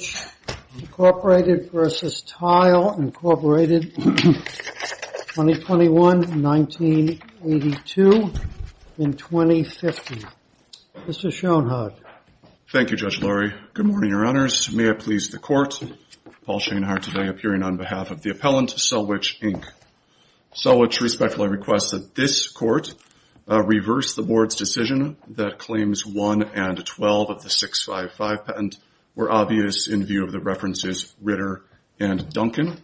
2021-1982, 2015. Mr. Schoenhardt. Thank you, Judge Lurie. Good morning, Your Honors. May it please the Court, Paul Schoenhardt today appearing on behalf of the Appellant, Selwitch Inc. Selwitch respectfully requests that this Court reverse the Board's decision that Claims 1 and 12 of the 655 patent were obvious in view of the references Ritter and Duncan.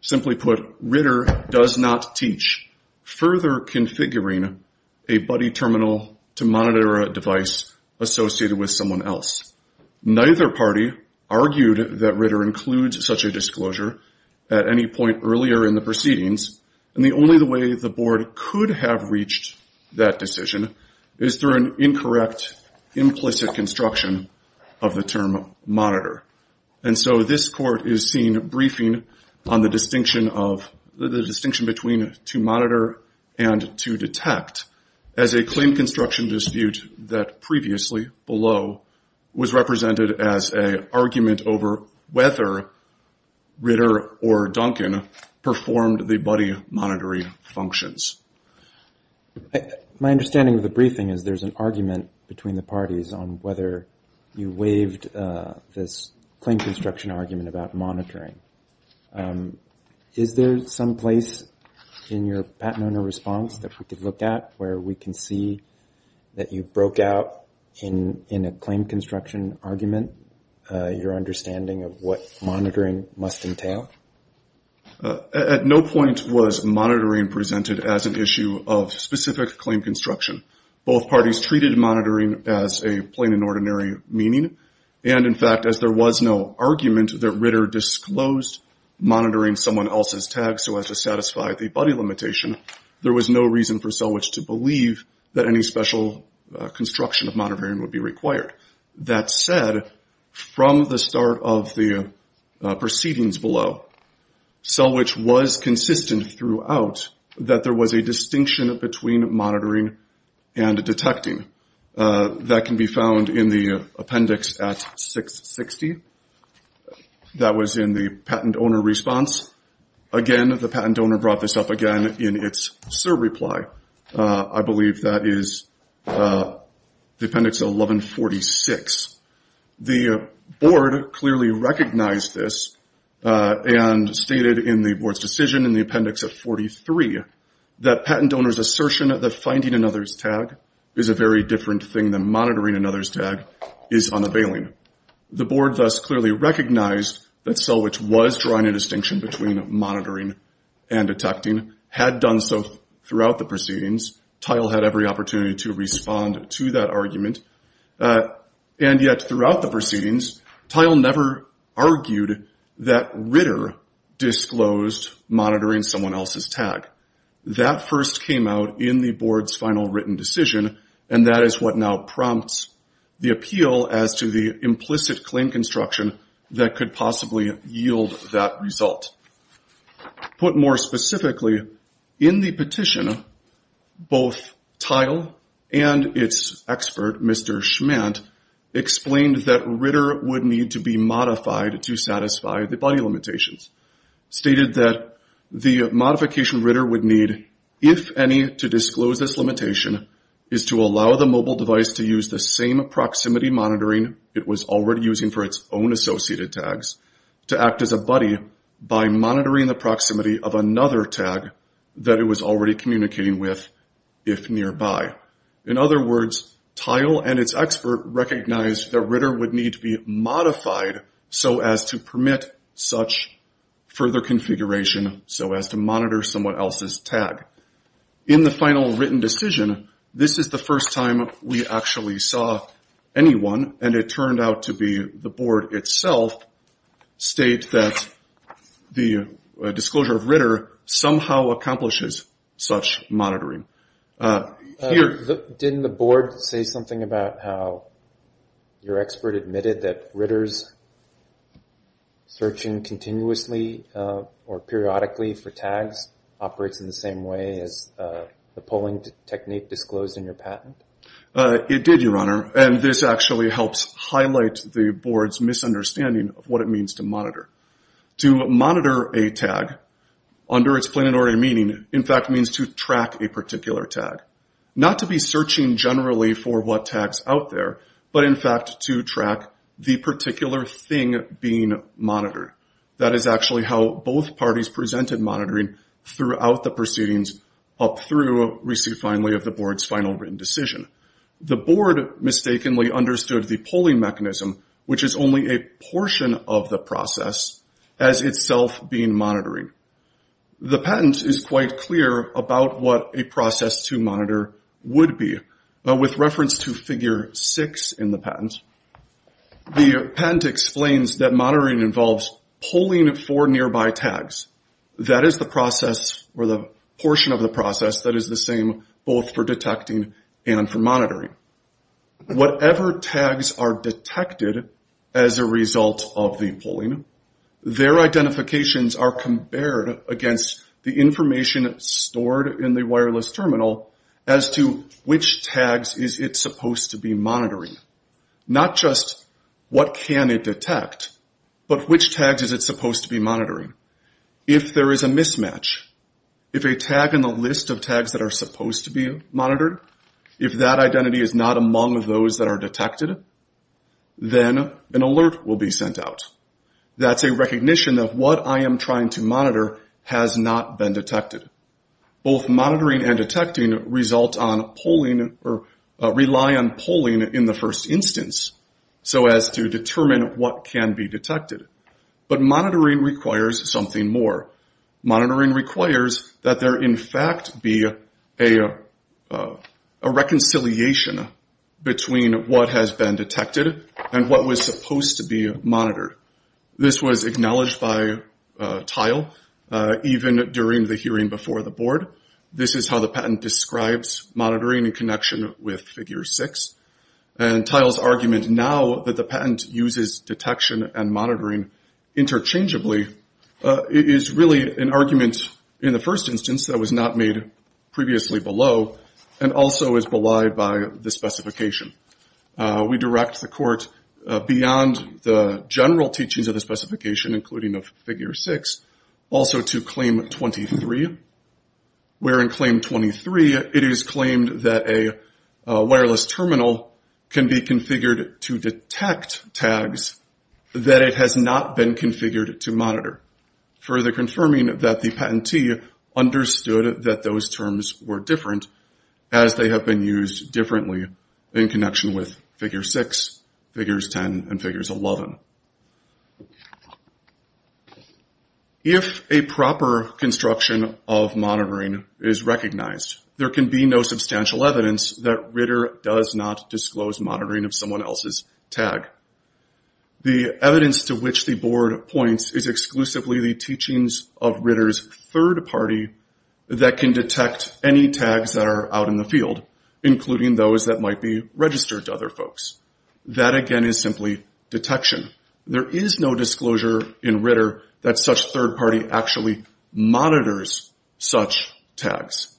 Simply put, Ritter does not teach further configuring a buddy terminal to monitor a device associated with someone else. Neither party argued that Ritter includes such a disclosure at any point earlier in the proceedings, and the only way the Board could have reached that decision is through an incorrect, implicit construction of the term monitor. And so this Court is seeing a briefing on the distinction between to monitor and to detect as a claim construction dispute that previously below was represented as an argument over whether Ritter or Duncan performed the buddy monitoring functions. My understanding of the briefing is there's an argument between the parties on whether you waived this claim construction argument about monitoring. Is there some place in your patent owner response that we could look at where we can see that you broke out in a claim construction argument, your understanding of what monitoring must entail? At no point was monitoring presented as an issue of specific claim construction. Both parties treated monitoring as a plain and ordinary meaning, and in fact, as there was no argument that Ritter disclosed monitoring someone else's tag so as to satisfy the buddy limitation, there was no reason for Selwitch to believe that any special construction of that said from the start of the proceedings below, Selwitch was consistent throughout that there was a distinction between monitoring and detecting. That can be found in the appendix at 660. That was in the patent owner response. Again, the patent owner brought this up again in its SIR reply. I believe that is the appendix at 1146. The board clearly recognized this and stated in the board's decision in the appendix at 43 that patent owner's assertion that finding another's tag is a very different thing than monitoring another's tag is unavailing. The board thus clearly recognized that Selwitch was drawing a distinction between monitoring and detecting, had done so throughout the proceedings. Tile had every opportunity to respond to that argument, and yet throughout the proceedings, Tile never argued that Ritter disclosed monitoring someone else's tag. That first came out in the board's final written decision, and that is what now prompts the appeal as to the implicit claim construction that could possibly yield that result. Put more specifically, in the petition, both Tile and its expert, Mr. Schmandt, explained that Ritter would need to be modified to satisfy the body limitations. Stated that the modification Ritter would need, if any, to disclose this limitation is to allow the mobile device to use the same proximity monitoring it was already using for its own associated tags to act as a buddy by monitoring the proximity of another tag that it was already communicating with if nearby. In other words, Tile and its expert recognized that Ritter would need to be modified so as to permit such further configuration so as to monitor someone else's tag. In the final written decision, this is the first time we actually saw anyone, and it turned out to be the board itself state that the disclosure of Ritter somehow accomplishes such monitoring. Didn't the board say something about how your expert admitted that Ritter's searching continuously or periodically for tags operates in the same way as the polling technique disclosed in your patent? It did, Your Honor, and this actually helps highlight the board's misunderstanding of what it means to monitor. To monitor a tag, under its plenary meaning, in fact means to track a particular tag. Not to be searching generally for what tags out there, but in fact to track the particular thing being monitored. That is actually how both parties presented monitoring throughout the proceedings up through receipt finally of the board's final written decision. The board mistakenly understood the polling mechanism, which is only a portion of the process, as itself being monitoring. The patent is quite clear about what a process to monitor would be, but with reference to that is the process, or the portion of the process that is the same both for detecting and for monitoring. Whatever tags are detected as a result of the polling, their identifications are compared against the information stored in the wireless terminal as to which tags is it supposed to be monitoring. Not just what can it detect, but which tags is it supposed to be monitoring. If there is a mismatch, if a tag in the list of tags that are supposed to be monitored, if that identity is not among those that are detected, then an alert will be sent out. That's a recognition of what I am trying to monitor has not been detected. Both monitoring and detecting result on polling, or rely on polling in the first instance, so as to determine what can be detected. But monitoring requires something more. Monitoring requires that there in fact be a reconciliation between what has been detected and what was supposed to be monitored. This was acknowledged by Tile even during the hearing before the board. This is how the patent describes monitoring in connection with Figure 6. Tile's argument now that the patent uses detection and monitoring interchangeably is really an argument in the first instance that was not made previously below and also is belied by the specification. We direct the court beyond the general teachings of the specification, including of Figure 6, also to Claim 23, where in Claim 23 it is claimed that a wireless terminal can be configured to detect tags that it has not been configured to monitor, further confirming that the patentee understood that those terms were different as they have been used differently in connection with Figure 6, Figures 10, and Figures 11. If a proper construction of monitoring is recognized, there can be no substantial evidence that Ritter does not disclose monitoring of someone else's tag. The evidence to which the board points is exclusively the teachings of Ritter's third party that can detect any tags that are out in the field, including those that might be registered to other folks. That again is simply detection. There is no disclosure in Ritter that such third party actually monitors such tags.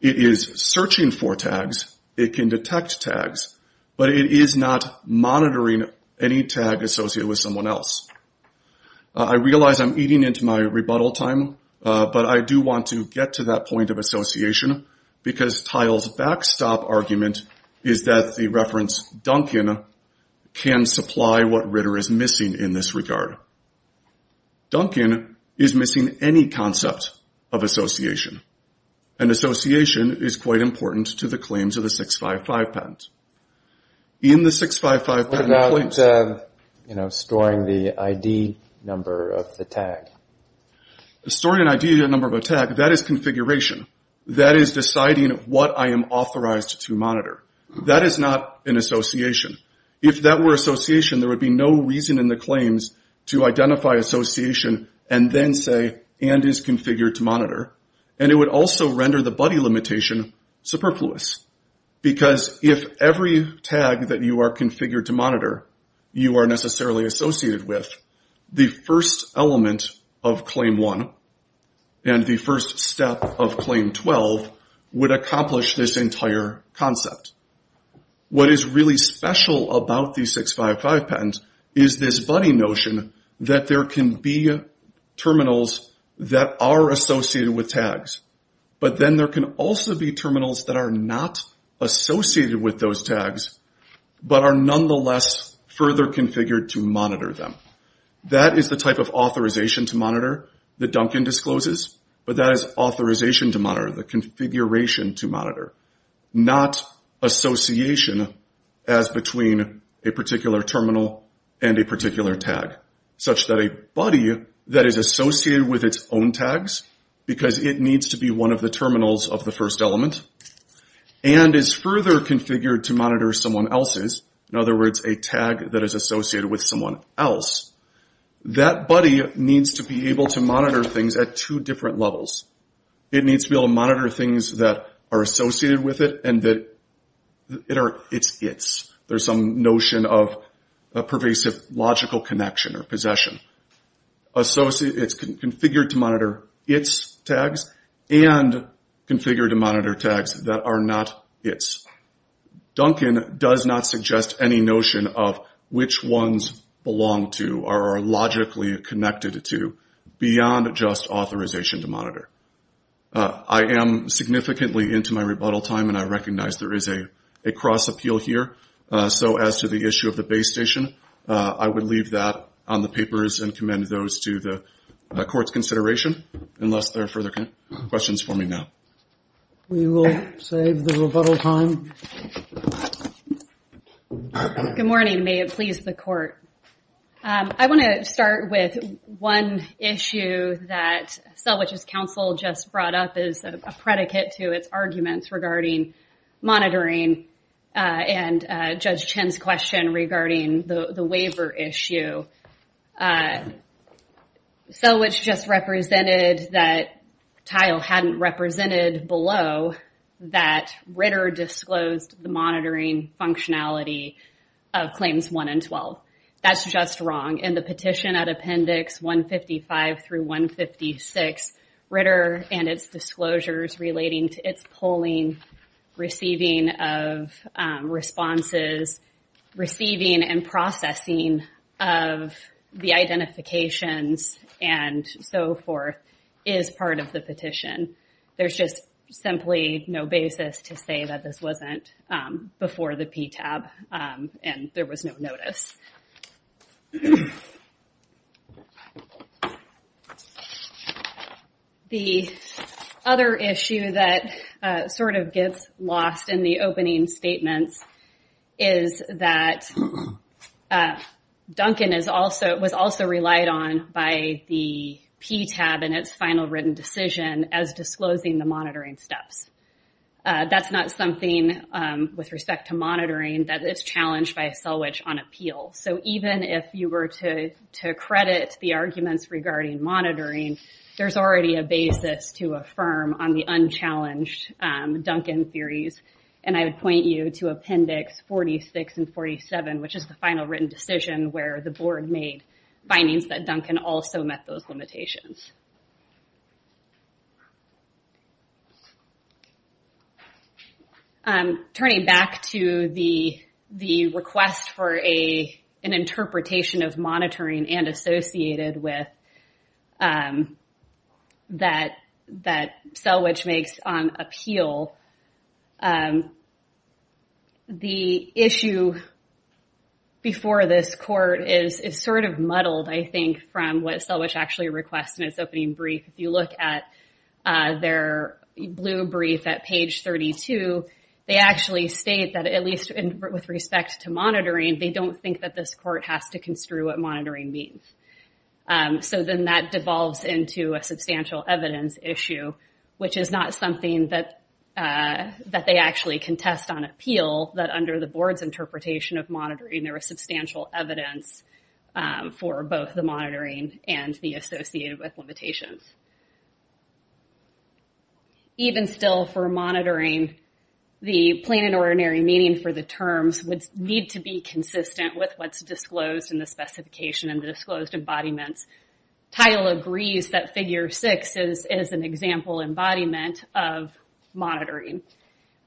It is searching for tags. It can detect tags, but it is not monitoring any tag associated with someone else. I realize I'm eating into my rebuttal time, but I do want to get to that point of association because Tile's backstop argument is that the reference, Duncan, can supply what Ritter is missing in this regard. Duncan is missing any concept of association, and association is quite important to the claims of the 655 patent. In the 655 patent claims... What about storing the ID number of the tag? Storing an ID number of a tag, that is configuration. That is deciding what I am authorized to monitor. That is not an association. If that were association, there would be no reason in the claims to identify association and then say, and is configured to monitor. It would also render the buddy limitation superfluous because if every tag that you are configured to monitor, you are necessarily associated with, the first element of claim one and the first step of claim 12 would accomplish this entire concept. What is really special about the 655 patent is this buddy notion that there can be terminals that are associated with tags, but then there can also be terminals that are not associated with those tags, but are nonetheless further configured to monitor them. That is the type of authorization to monitor that Duncan discloses, but that is authorization to monitor, the configuration to monitor, not association as between a particular terminal and a particular tag, such that a buddy that is associated with its own tags, because it needs to be one of the terminals of the first element, and is further configured to monitor someone else's, in other words, a tag that is associated with someone else, that buddy needs to be able to monitor things at two different levels. It needs to be able to monitor things that are associated with it and that it's its. There's some notion of a pervasive logical connection or possession. It's configured to monitor its tags and configured to monitor tags that are not its. Duncan does not suggest any notion of which ones belong to or are logically connected to beyond just authorization to monitor. I am significantly into my rebuttal time and I recognize there is a cross appeal here, so as to the issue of the base station, I would leave that on the papers and commend those to the court's consideration, unless there are further questions for me now. We will save the rebuttal time. Good morning, may it please the court. I want to start with one issue that Selvidge's Council just brought up as a predicate to its arguments regarding monitoring and Judge Chen's question regarding the waiver issue. Selvidge just represented that Tile hadn't represented below that Ritter disclosed the monitoring functionality of Claims 1 and 12. That's just wrong. In the petition at Appendix 155 through 156, Ritter and its disclosures relating to its polling, receiving of responses, receiving and processing of the identifications and so forth is part of the petition. There's just simply no basis to say that this wasn't before the PTAB and there was no notice. The other issue that sort of gets lost in the opening statements is that Duncan was also relied on by the PTAB in its final written decision as disclosing the monitoring steps. That's not something with respect to monitoring that is challenged by Selvidge on appeal. Even if you were to credit the arguments regarding monitoring, there's already a basis to affirm on the unchallenged Duncan theories. I would point you to Appendix 46 and 47, which is the final written decision where the board made findings that Duncan also met those limitations. Turning back to the request for an interpretation of monitoring and associated with that Selvidge makes on appeal, the issue before this court is sort of muddled, I think, from what Selvidge requested in its opening brief. If you look at their blue brief at page 32, they actually state that at least with respect to monitoring, they don't think that this court has to construe what monitoring means. Then that devolves into a substantial evidence issue, which is not something that they actually contest on appeal, that under the board's approval evidence for both the monitoring and the associated with limitations. Even still for monitoring, the plain and ordinary meaning for the terms would need to be consistent with what's disclosed in the specification and the disclosed embodiments. Title agrees that Figure 6 is an example embodiment of monitoring.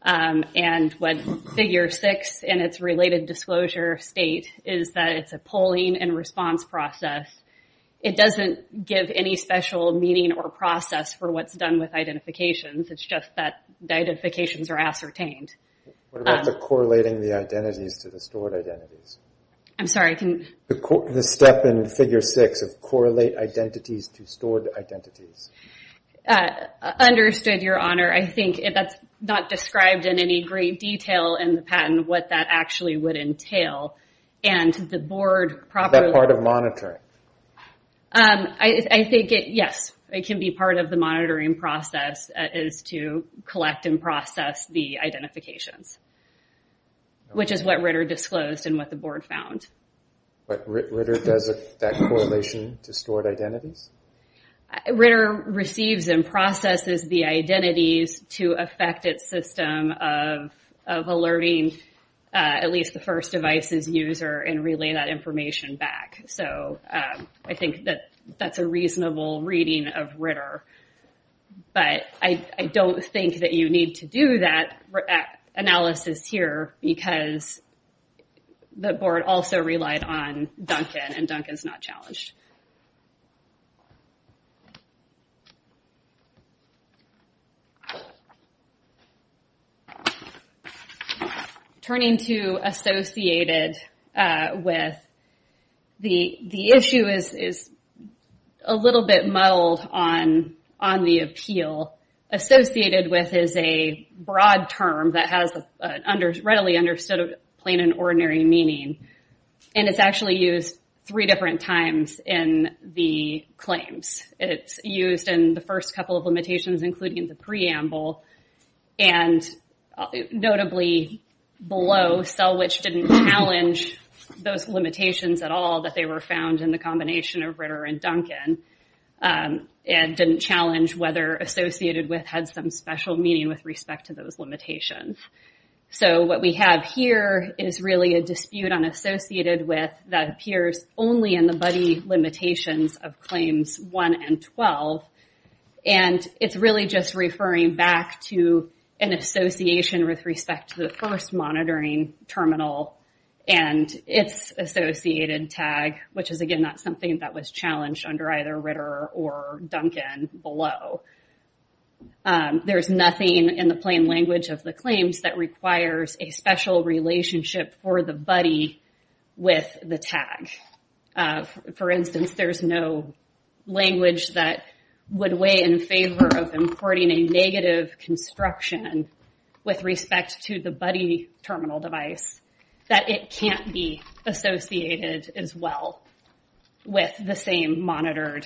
When Figure 6 and its related disclosure state is that it's a polling and response process, it doesn't give any special meaning or process for what's done with identifications. It's just that the identifications are ascertained. What about the correlating the identities to the stored identities? I'm sorry? The step in Figure 6 of correlate identities to stored identities. Understood, Your Honor. I think that's not what it would entail. The board properly... That part of monitoring. I think it, yes. It can be part of the monitoring process is to collect and process the identifications, which is what Ritter disclosed and what the board found. Ritter does that correlation to stored identities? Ritter receives and processes the identities to affect its system of alerting at least the first device's user and relay that information back. I think that that's a reasonable reading of Ritter, but I don't think that you need to do that analysis here because the board also relied on Duncan and Duncan's not challenged. Turning to associated with, the issue is a little bit muddled on the appeal. Associated with is a broad term that has a readily understood plain and ordinary meaning. It's actually used three different times in the claims. It's used in the first couple of limitations, including the preamble. Notably, below, Selwitch didn't challenge those limitations at all that they were found in the combination of Ritter and Duncan. It didn't challenge whether associated with had some special meaning with respect to those limitations. What we have here is really a dispute on associated with that appears only in the buddy limitations of claims one and 12. It's really just referring back to an association with respect to the first monitoring terminal and its associated tag, which is again not something that was challenged under either Ritter or Duncan below. There's nothing in the plain language of the claims that requires a special relationship for the buddy with the tag. For instance, there's no language that would weigh in favor of importing a negative construction with respect to the buddy terminal device that it can't be associated as well with the same monitored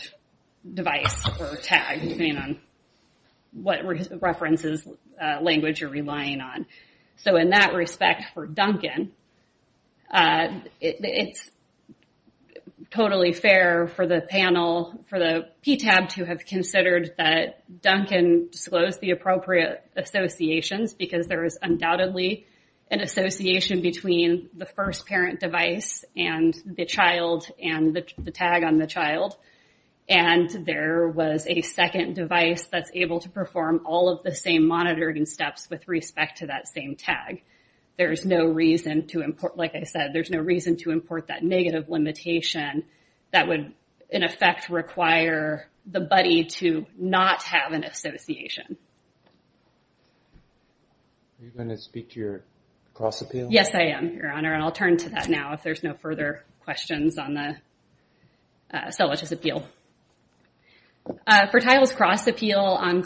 device or tag, depending on what references language you're relying on. In that respect for Duncan, it's totally fair for the PTAB to have considered that Duncan disclosed the appropriate associations because there is undoubtedly an association between the first parent device and the tag on the child. There was a second device that's able to perform all of the same monitoring steps with respect to that same tag. There's no reason to import, like I said, there's no reason to import that negative limitation that would in effect require the buddy to not have an association. Are you going to speak to your cross appeal? Yes, I am, Your Honor, and I'll turn to that now if there's no further questions on the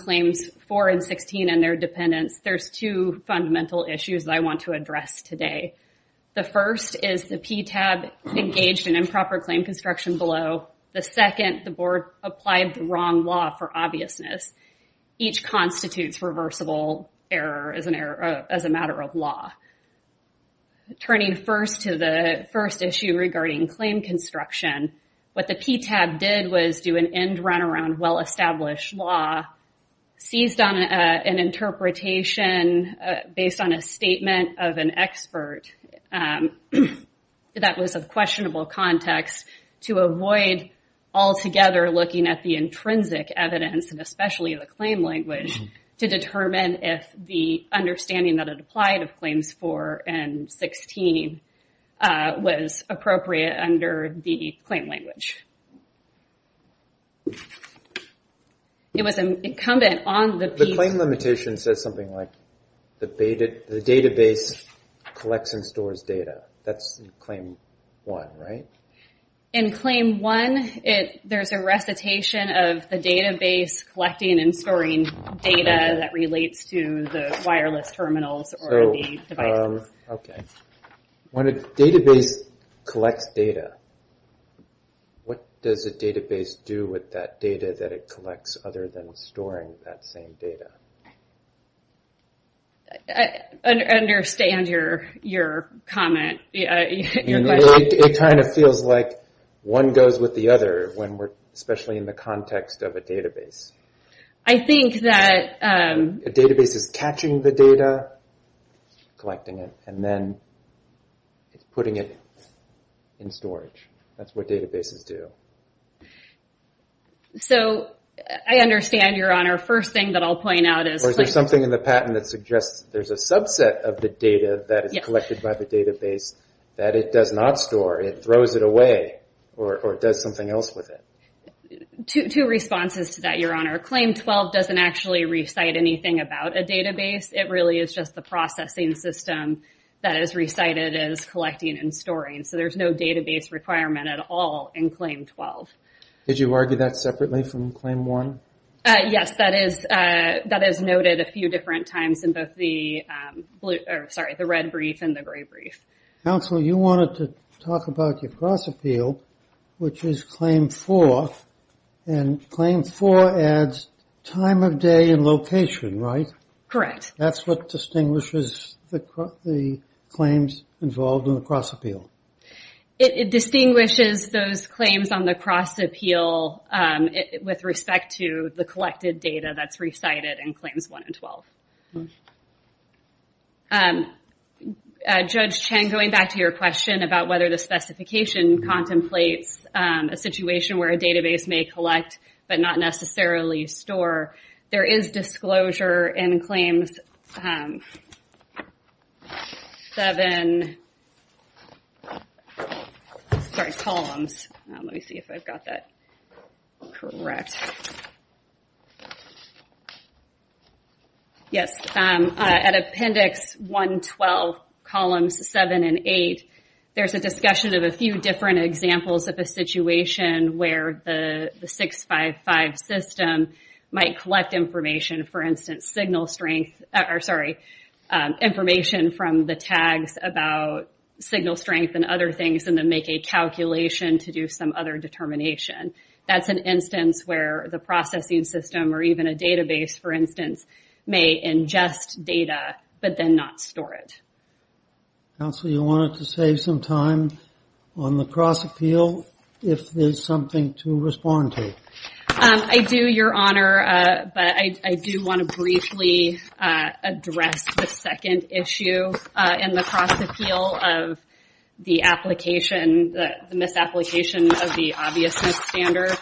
claims 4 and 16 and their dependence. There's two fundamental issues that I want to address today. The first is the PTAB engaged in improper claim construction below. The second, the board applied the wrong law for obviousness. Each constitutes reversible error as a matter of law. Turning first to the first issue regarding claim construction, what the PTAB did was do an end run around well-established law, seized on an interpretation based on a statement of an expert that was of questionable context to avoid altogether looking at the intrinsic evidence and especially the claim language to determine if the understanding that it applied of claims 4 and 16 was appropriate under the claim language. The claim limitation says something like, the database collects and stores data. That's claim 1, right? In claim 1, there's a recitation of the database collecting and storing data that relates to the wireless terminals or the devices. When a database collects data, what does a database do with that data that it collects other than storing that same data? I understand your comment. It kind of feels like one goes with the other, especially in the context of a database. I think that... A database is catching the data, collecting it, and then it's putting it in storage. That's what databases do. I understand, Your Honor. First thing that I'll point out is... Or is there something in the patent that suggests there's a subset of the data that is collected by the database that it does not store? It throws it away or does something else with it? Two responses to that, Your Honor. Claim 12 doesn't actually recite anything about a database. It really is just the processing system that is recited as collecting and storing. There's no database requirement at all in claim 12. Did you argue that separately from claim 1? Yes. That is noted a few different times in both the red brief and the gray brief. Counsel, you wanted to talk about your cross appeal, which is claim 4. Claim 4 adds time of day and location, right? Correct. That's what distinguishes the claims involved in the cross appeal. It distinguishes those claims on the cross appeal with respect to the collected data that's recited in claims 1 and 12. Judge Chen, going back to your question about whether the specification contemplates a situation where a database may collect but not necessarily store, there is disclosure in claims 7... Sorry, columns. Let me see if I've got that correct. Yes. At appendix 112, columns 7 and 8, there's a discussion of a few different examples of a situation where the 655 system might collect information, for instance, signal strength... Sorry. Information from the tags about signal strength and other things and then make a calculation to do some other determination. That's an instance where the processing system or even a database, for instance, may ingest data but then not store it. Counsel, you wanted to save some time on the cross appeal if there's something to respond to. I do, Your Honor, but I do want to briefly address the second issue in the cross appeal of the application, the misapplication of the obviousness standard.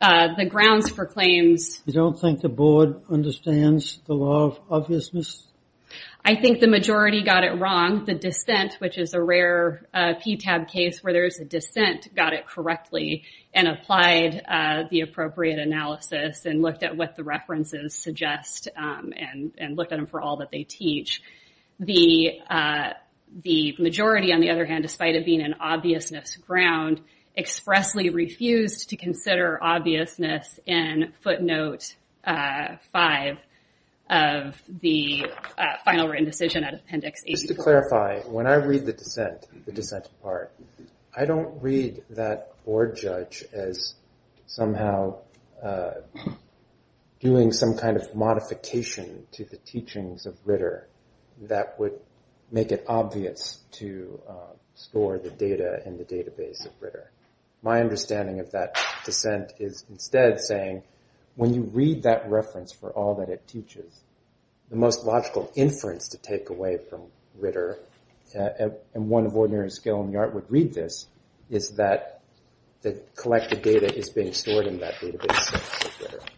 The grounds for claims... You don't think the board understands the law of obviousness? I think the majority got it wrong. The dissent, which is a rare PTAB case where there's a dissent, got it correctly and applied the appropriate analysis and looked at what the references suggest and looked at them for all that they teach. The majority, on the other hand, despite it being an obviousness ground, expressly refused to consider obviousness in footnote five of the final written decision at appendix 84. Just to clarify, when I read the dissent, the dissent part, I don't read that board judge as somehow doing some kind of modification to the teachings of Ritter that would make it obvious to store the data in the database of Ritter. My understanding of that dissent is instead saying, when you read that reference for all that it teaches, the most logical inference to take away from Ritter, and one of ordinary skill in the art would read this, is that the collected data is being stored in that database.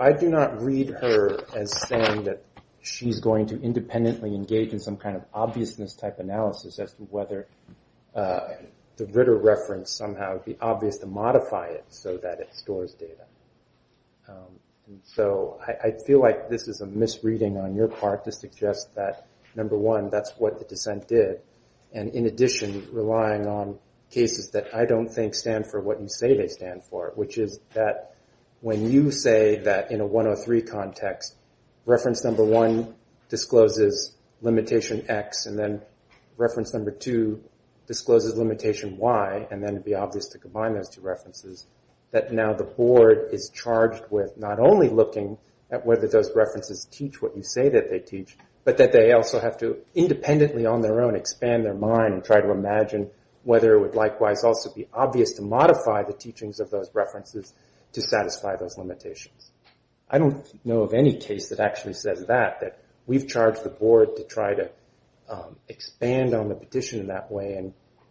I do not read her as saying that she's going to independently engage in some kind of obviousness type analysis as to whether the Ritter reference somehow would be obvious to modify it so that it stores data. I feel like this is a misreading on your part to suggest that, number one, that's what the dissent did. In addition, relying on cases that I don't think stand for what you say they stand for, which is that when you say that in a 103 context, reference number one discloses limitation X, and then reference number two discloses limitation Y, and then it would be obvious to combine those two references, that now the board is charged with not only looking at whether those references teach what you say that they teach, but that they also have to independently on their own expand their mind and try to imagine whether it would likewise also be obvious to modify the teachings of those references to satisfy those limitations. I don't know of any case that actually says that, that we've charged the board to try to expand on the petition in that way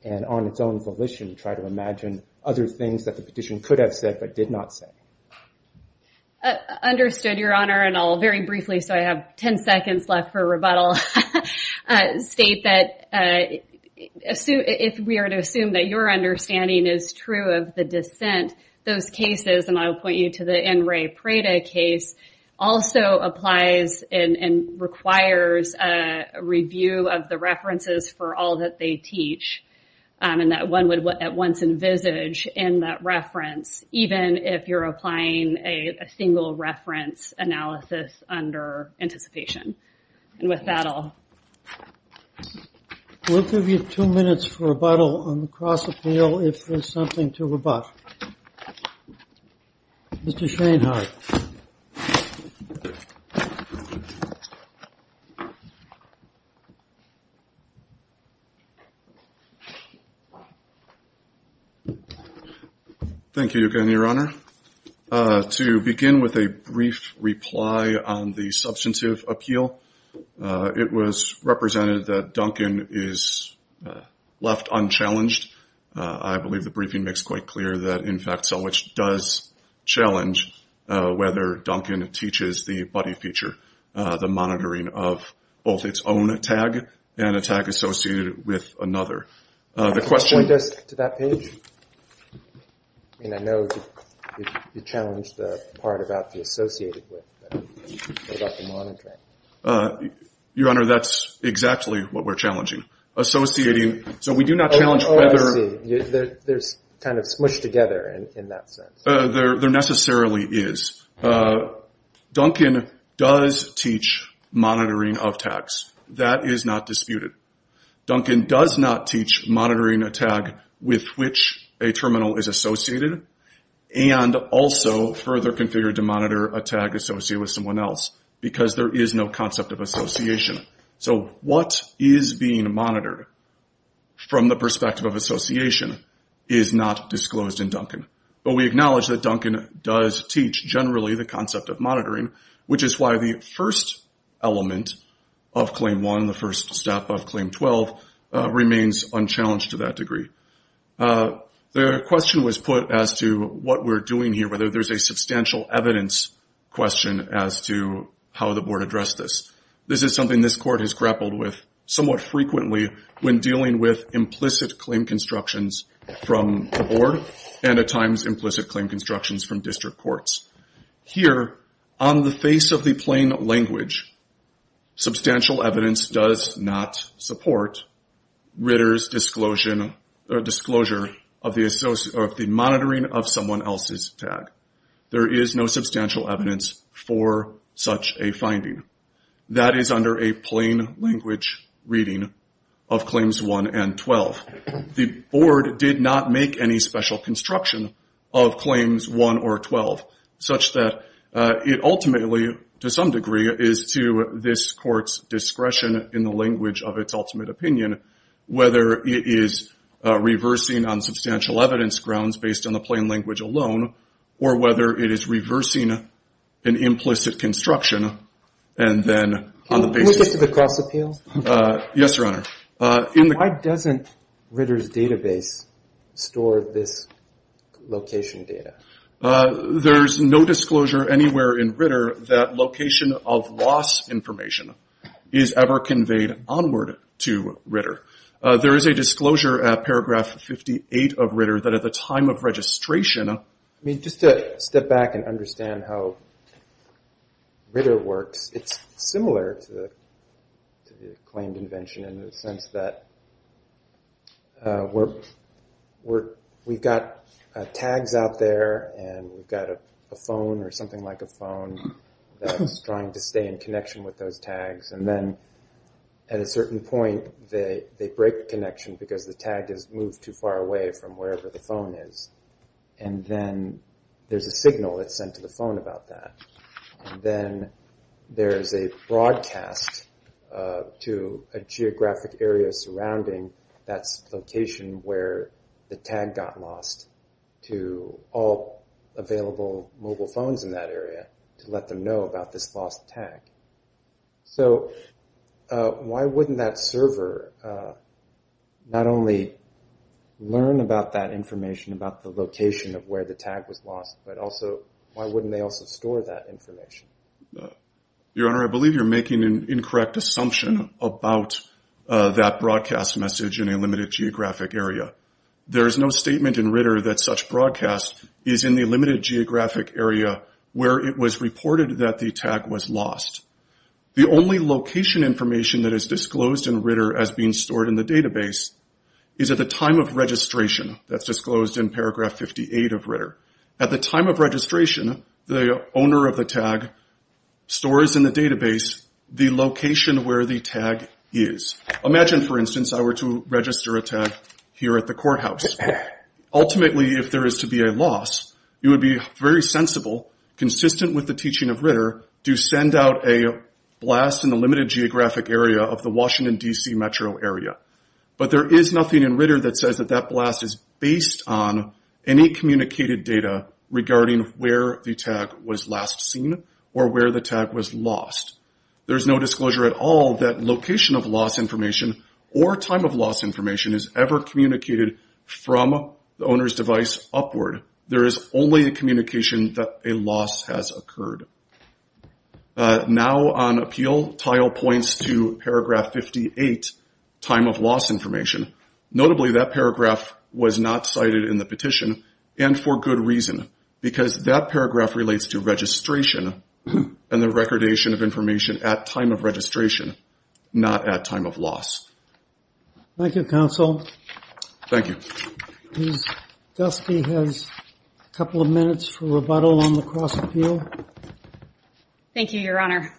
and on its own volition try to imagine other things that the petition could have said but did not say. Understood, Your Honor, and I'll very briefly, so I have 10 seconds left for rebuttal, state that if we are to assume that your understanding is true of the dissent, those cases, and I'll point you to the N. Ray Prada case, also applies and requires a review of the references for all that they teach, and that one would at once envisage in that reference, even if you're applying a single reference analysis under anticipation. And with that I'll... We'll give you two minutes for rebuttal on the cross appeal if there's something to rebut. Mr. Shainhardt. Thank you again, Your Honor. To begin with a brief reply on the substantive appeal, it was represented that Duncan is left unchallenged. I believe the briefing makes quite clear that in fact Selwich does challenge whether Duncan teaches the buddy feature, the monitoring of both its own tag and a tag associated with another. The question... I mean, I know you challenged the part about the associated with, about the monitoring. Your Honor, that's exactly what we're challenging. Associating, so we do not challenge whether... Oh, I see. They're kind of smushed together in that sense. There necessarily is. Duncan does teach monitoring of tags. That is not disputed. Duncan does not teach monitoring a tag with which a terminal is associated and also further configured to monitor a tag associated with someone else because there is no concept of association. So what is being monitored from the perspective of association is not disclosed in Duncan. But we acknowledge that Duncan does teach generally the concept of monitoring, which is why the first element of Claim 1, the first step of Claim 12, remains unchallenged to that degree. The question was put as to what we're doing here, whether there's a substantial evidence question as to how the Board addressed this. This is something this Court has grappled with somewhat frequently when dealing with implicit claim constructions from the Board and at times implicit claim constructions from district courts. Here, on the face of the plain language, substantial evidence does not support Ritter's disclosure of the monitoring of someone else's tag. There is no substantial evidence for such a finding. That is under a plain language reading of Claims 1 and 12. The Board did not make any special construction of Claims 1 or 12 such that it ultimately, to some degree, is to this Court's discretion in the language of its ultimate opinion whether it is reversing on substantial evidence grounds based on the plain language alone or whether it is reversing an implicit construction and then on the basis of the cross-appeal. Yes, Your Honor. Why doesn't Ritter's database store this location data? There's no disclosure anywhere in Ritter that location of loss information is ever conveyed onward to Ritter. There is a disclosure at paragraph 58 of Ritter that at the time of registration... I mean, just to step back and understand how Ritter works, it's similar to Ritter's claimed invention in the sense that we've got tags out there and we've got a phone or something like a phone that's trying to stay in connection with those tags and then at a certain point they break the connection because the tag has moved too far away from wherever the phone is and then there's a signal that's sent to the phone about that and then there's a broadcast to a geographic area surrounding that location where the tag got lost to all available mobile phones in that area to let them know about this lost tag. So why wouldn't that server not only learn about that information about the location of where the tag was lost, but also why wouldn't they also store that information? Your Honor, I believe you're making an incorrect assumption about that broadcast message in a limited geographic area. There is no statement in Ritter that such broadcast is in the limited geographic area where it was reported that the tag was lost. The only location information that is disclosed in Ritter as being stored in the database is at the time of registration. That's disclosed in paragraph 58 of Ritter. At the time of registration, the owner of the tag stores in the database the location where the tag is. Imagine, for instance, I were to register a tag here at the courthouse. Ultimately, if there is to be a loss, it would be very sensible, consistent with the teaching of Ritter, to send out a blast in the limited geographic area of the Washington, D.C. metro area. But there is nothing in Ritter that says that that blast is based on any communicated data regarding where the tag was last seen or where the tag was lost. There is no disclosure at all that location of loss information or time of loss information is ever communicated from the owner's device upward. There is only a communication that a loss has occurred. Now on appeal, tile points to paragraph 58, time of loss information. Notably, that paragraph was not cited in the petition and for good reason because that paragraph relates to registration and the recordation of information at time of registration, not at time of loss. Thank you, counsel. Thank you. Ms. Gelsky has a couple of minutes for rebuttal on the cross-appeal. Thank you, your honor.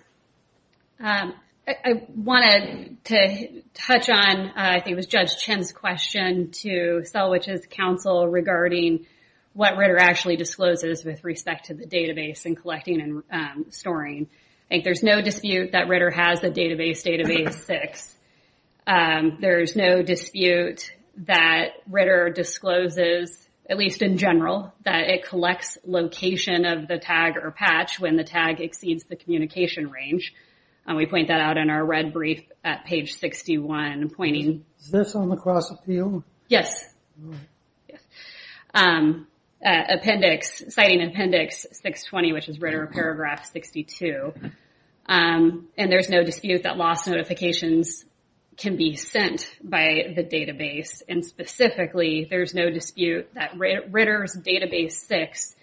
I wanted to touch on, I think it was Judge Chen's question to Selwich's counsel regarding what Ritter actually discloses with respect to the database and collecting and storing. There is no dispute that Ritter has a database, database six. There is no dispute that Ritter discloses, at least in general, that it collects location of the tag or patch when the tag exceeds the communication range. We point that out in our red brief at page 61, pointing... Is this on the cross-appeal? Yes. Appendix, citing appendix 620, which is Ritter paragraph 62. There is no dispute that loss notifications can be sent by the database. Specifically, there is no dispute that Ritter's database six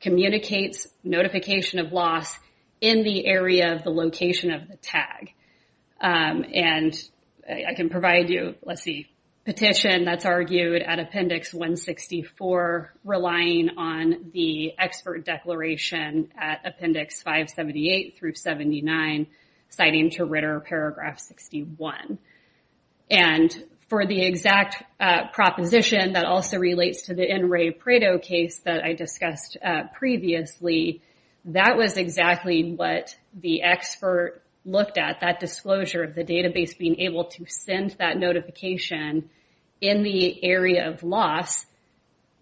communicates notification of loss in the area of the location of the tag. I can provide you, let's see, petition that's argued at appendix 164, relying on the expert declaration at appendix 578 through 79, citing to Ritter paragraph 61. For the NRA PREDO case that I discussed previously, that was exactly what the expert looked at. That disclosure of the database being able to send that notification in the area of loss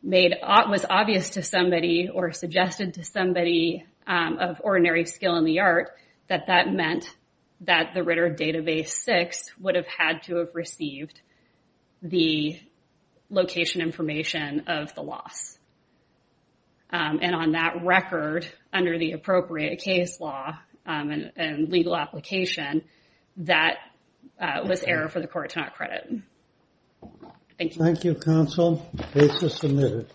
was obvious to somebody or suggested to somebody of ordinary skill in the art that that meant that the Ritter database six would have had to have received the location information of the loss. And on that record, under the appropriate case law and legal application, that was error for the court to not credit. Thank you. Thank you, counsel. Case is submitted.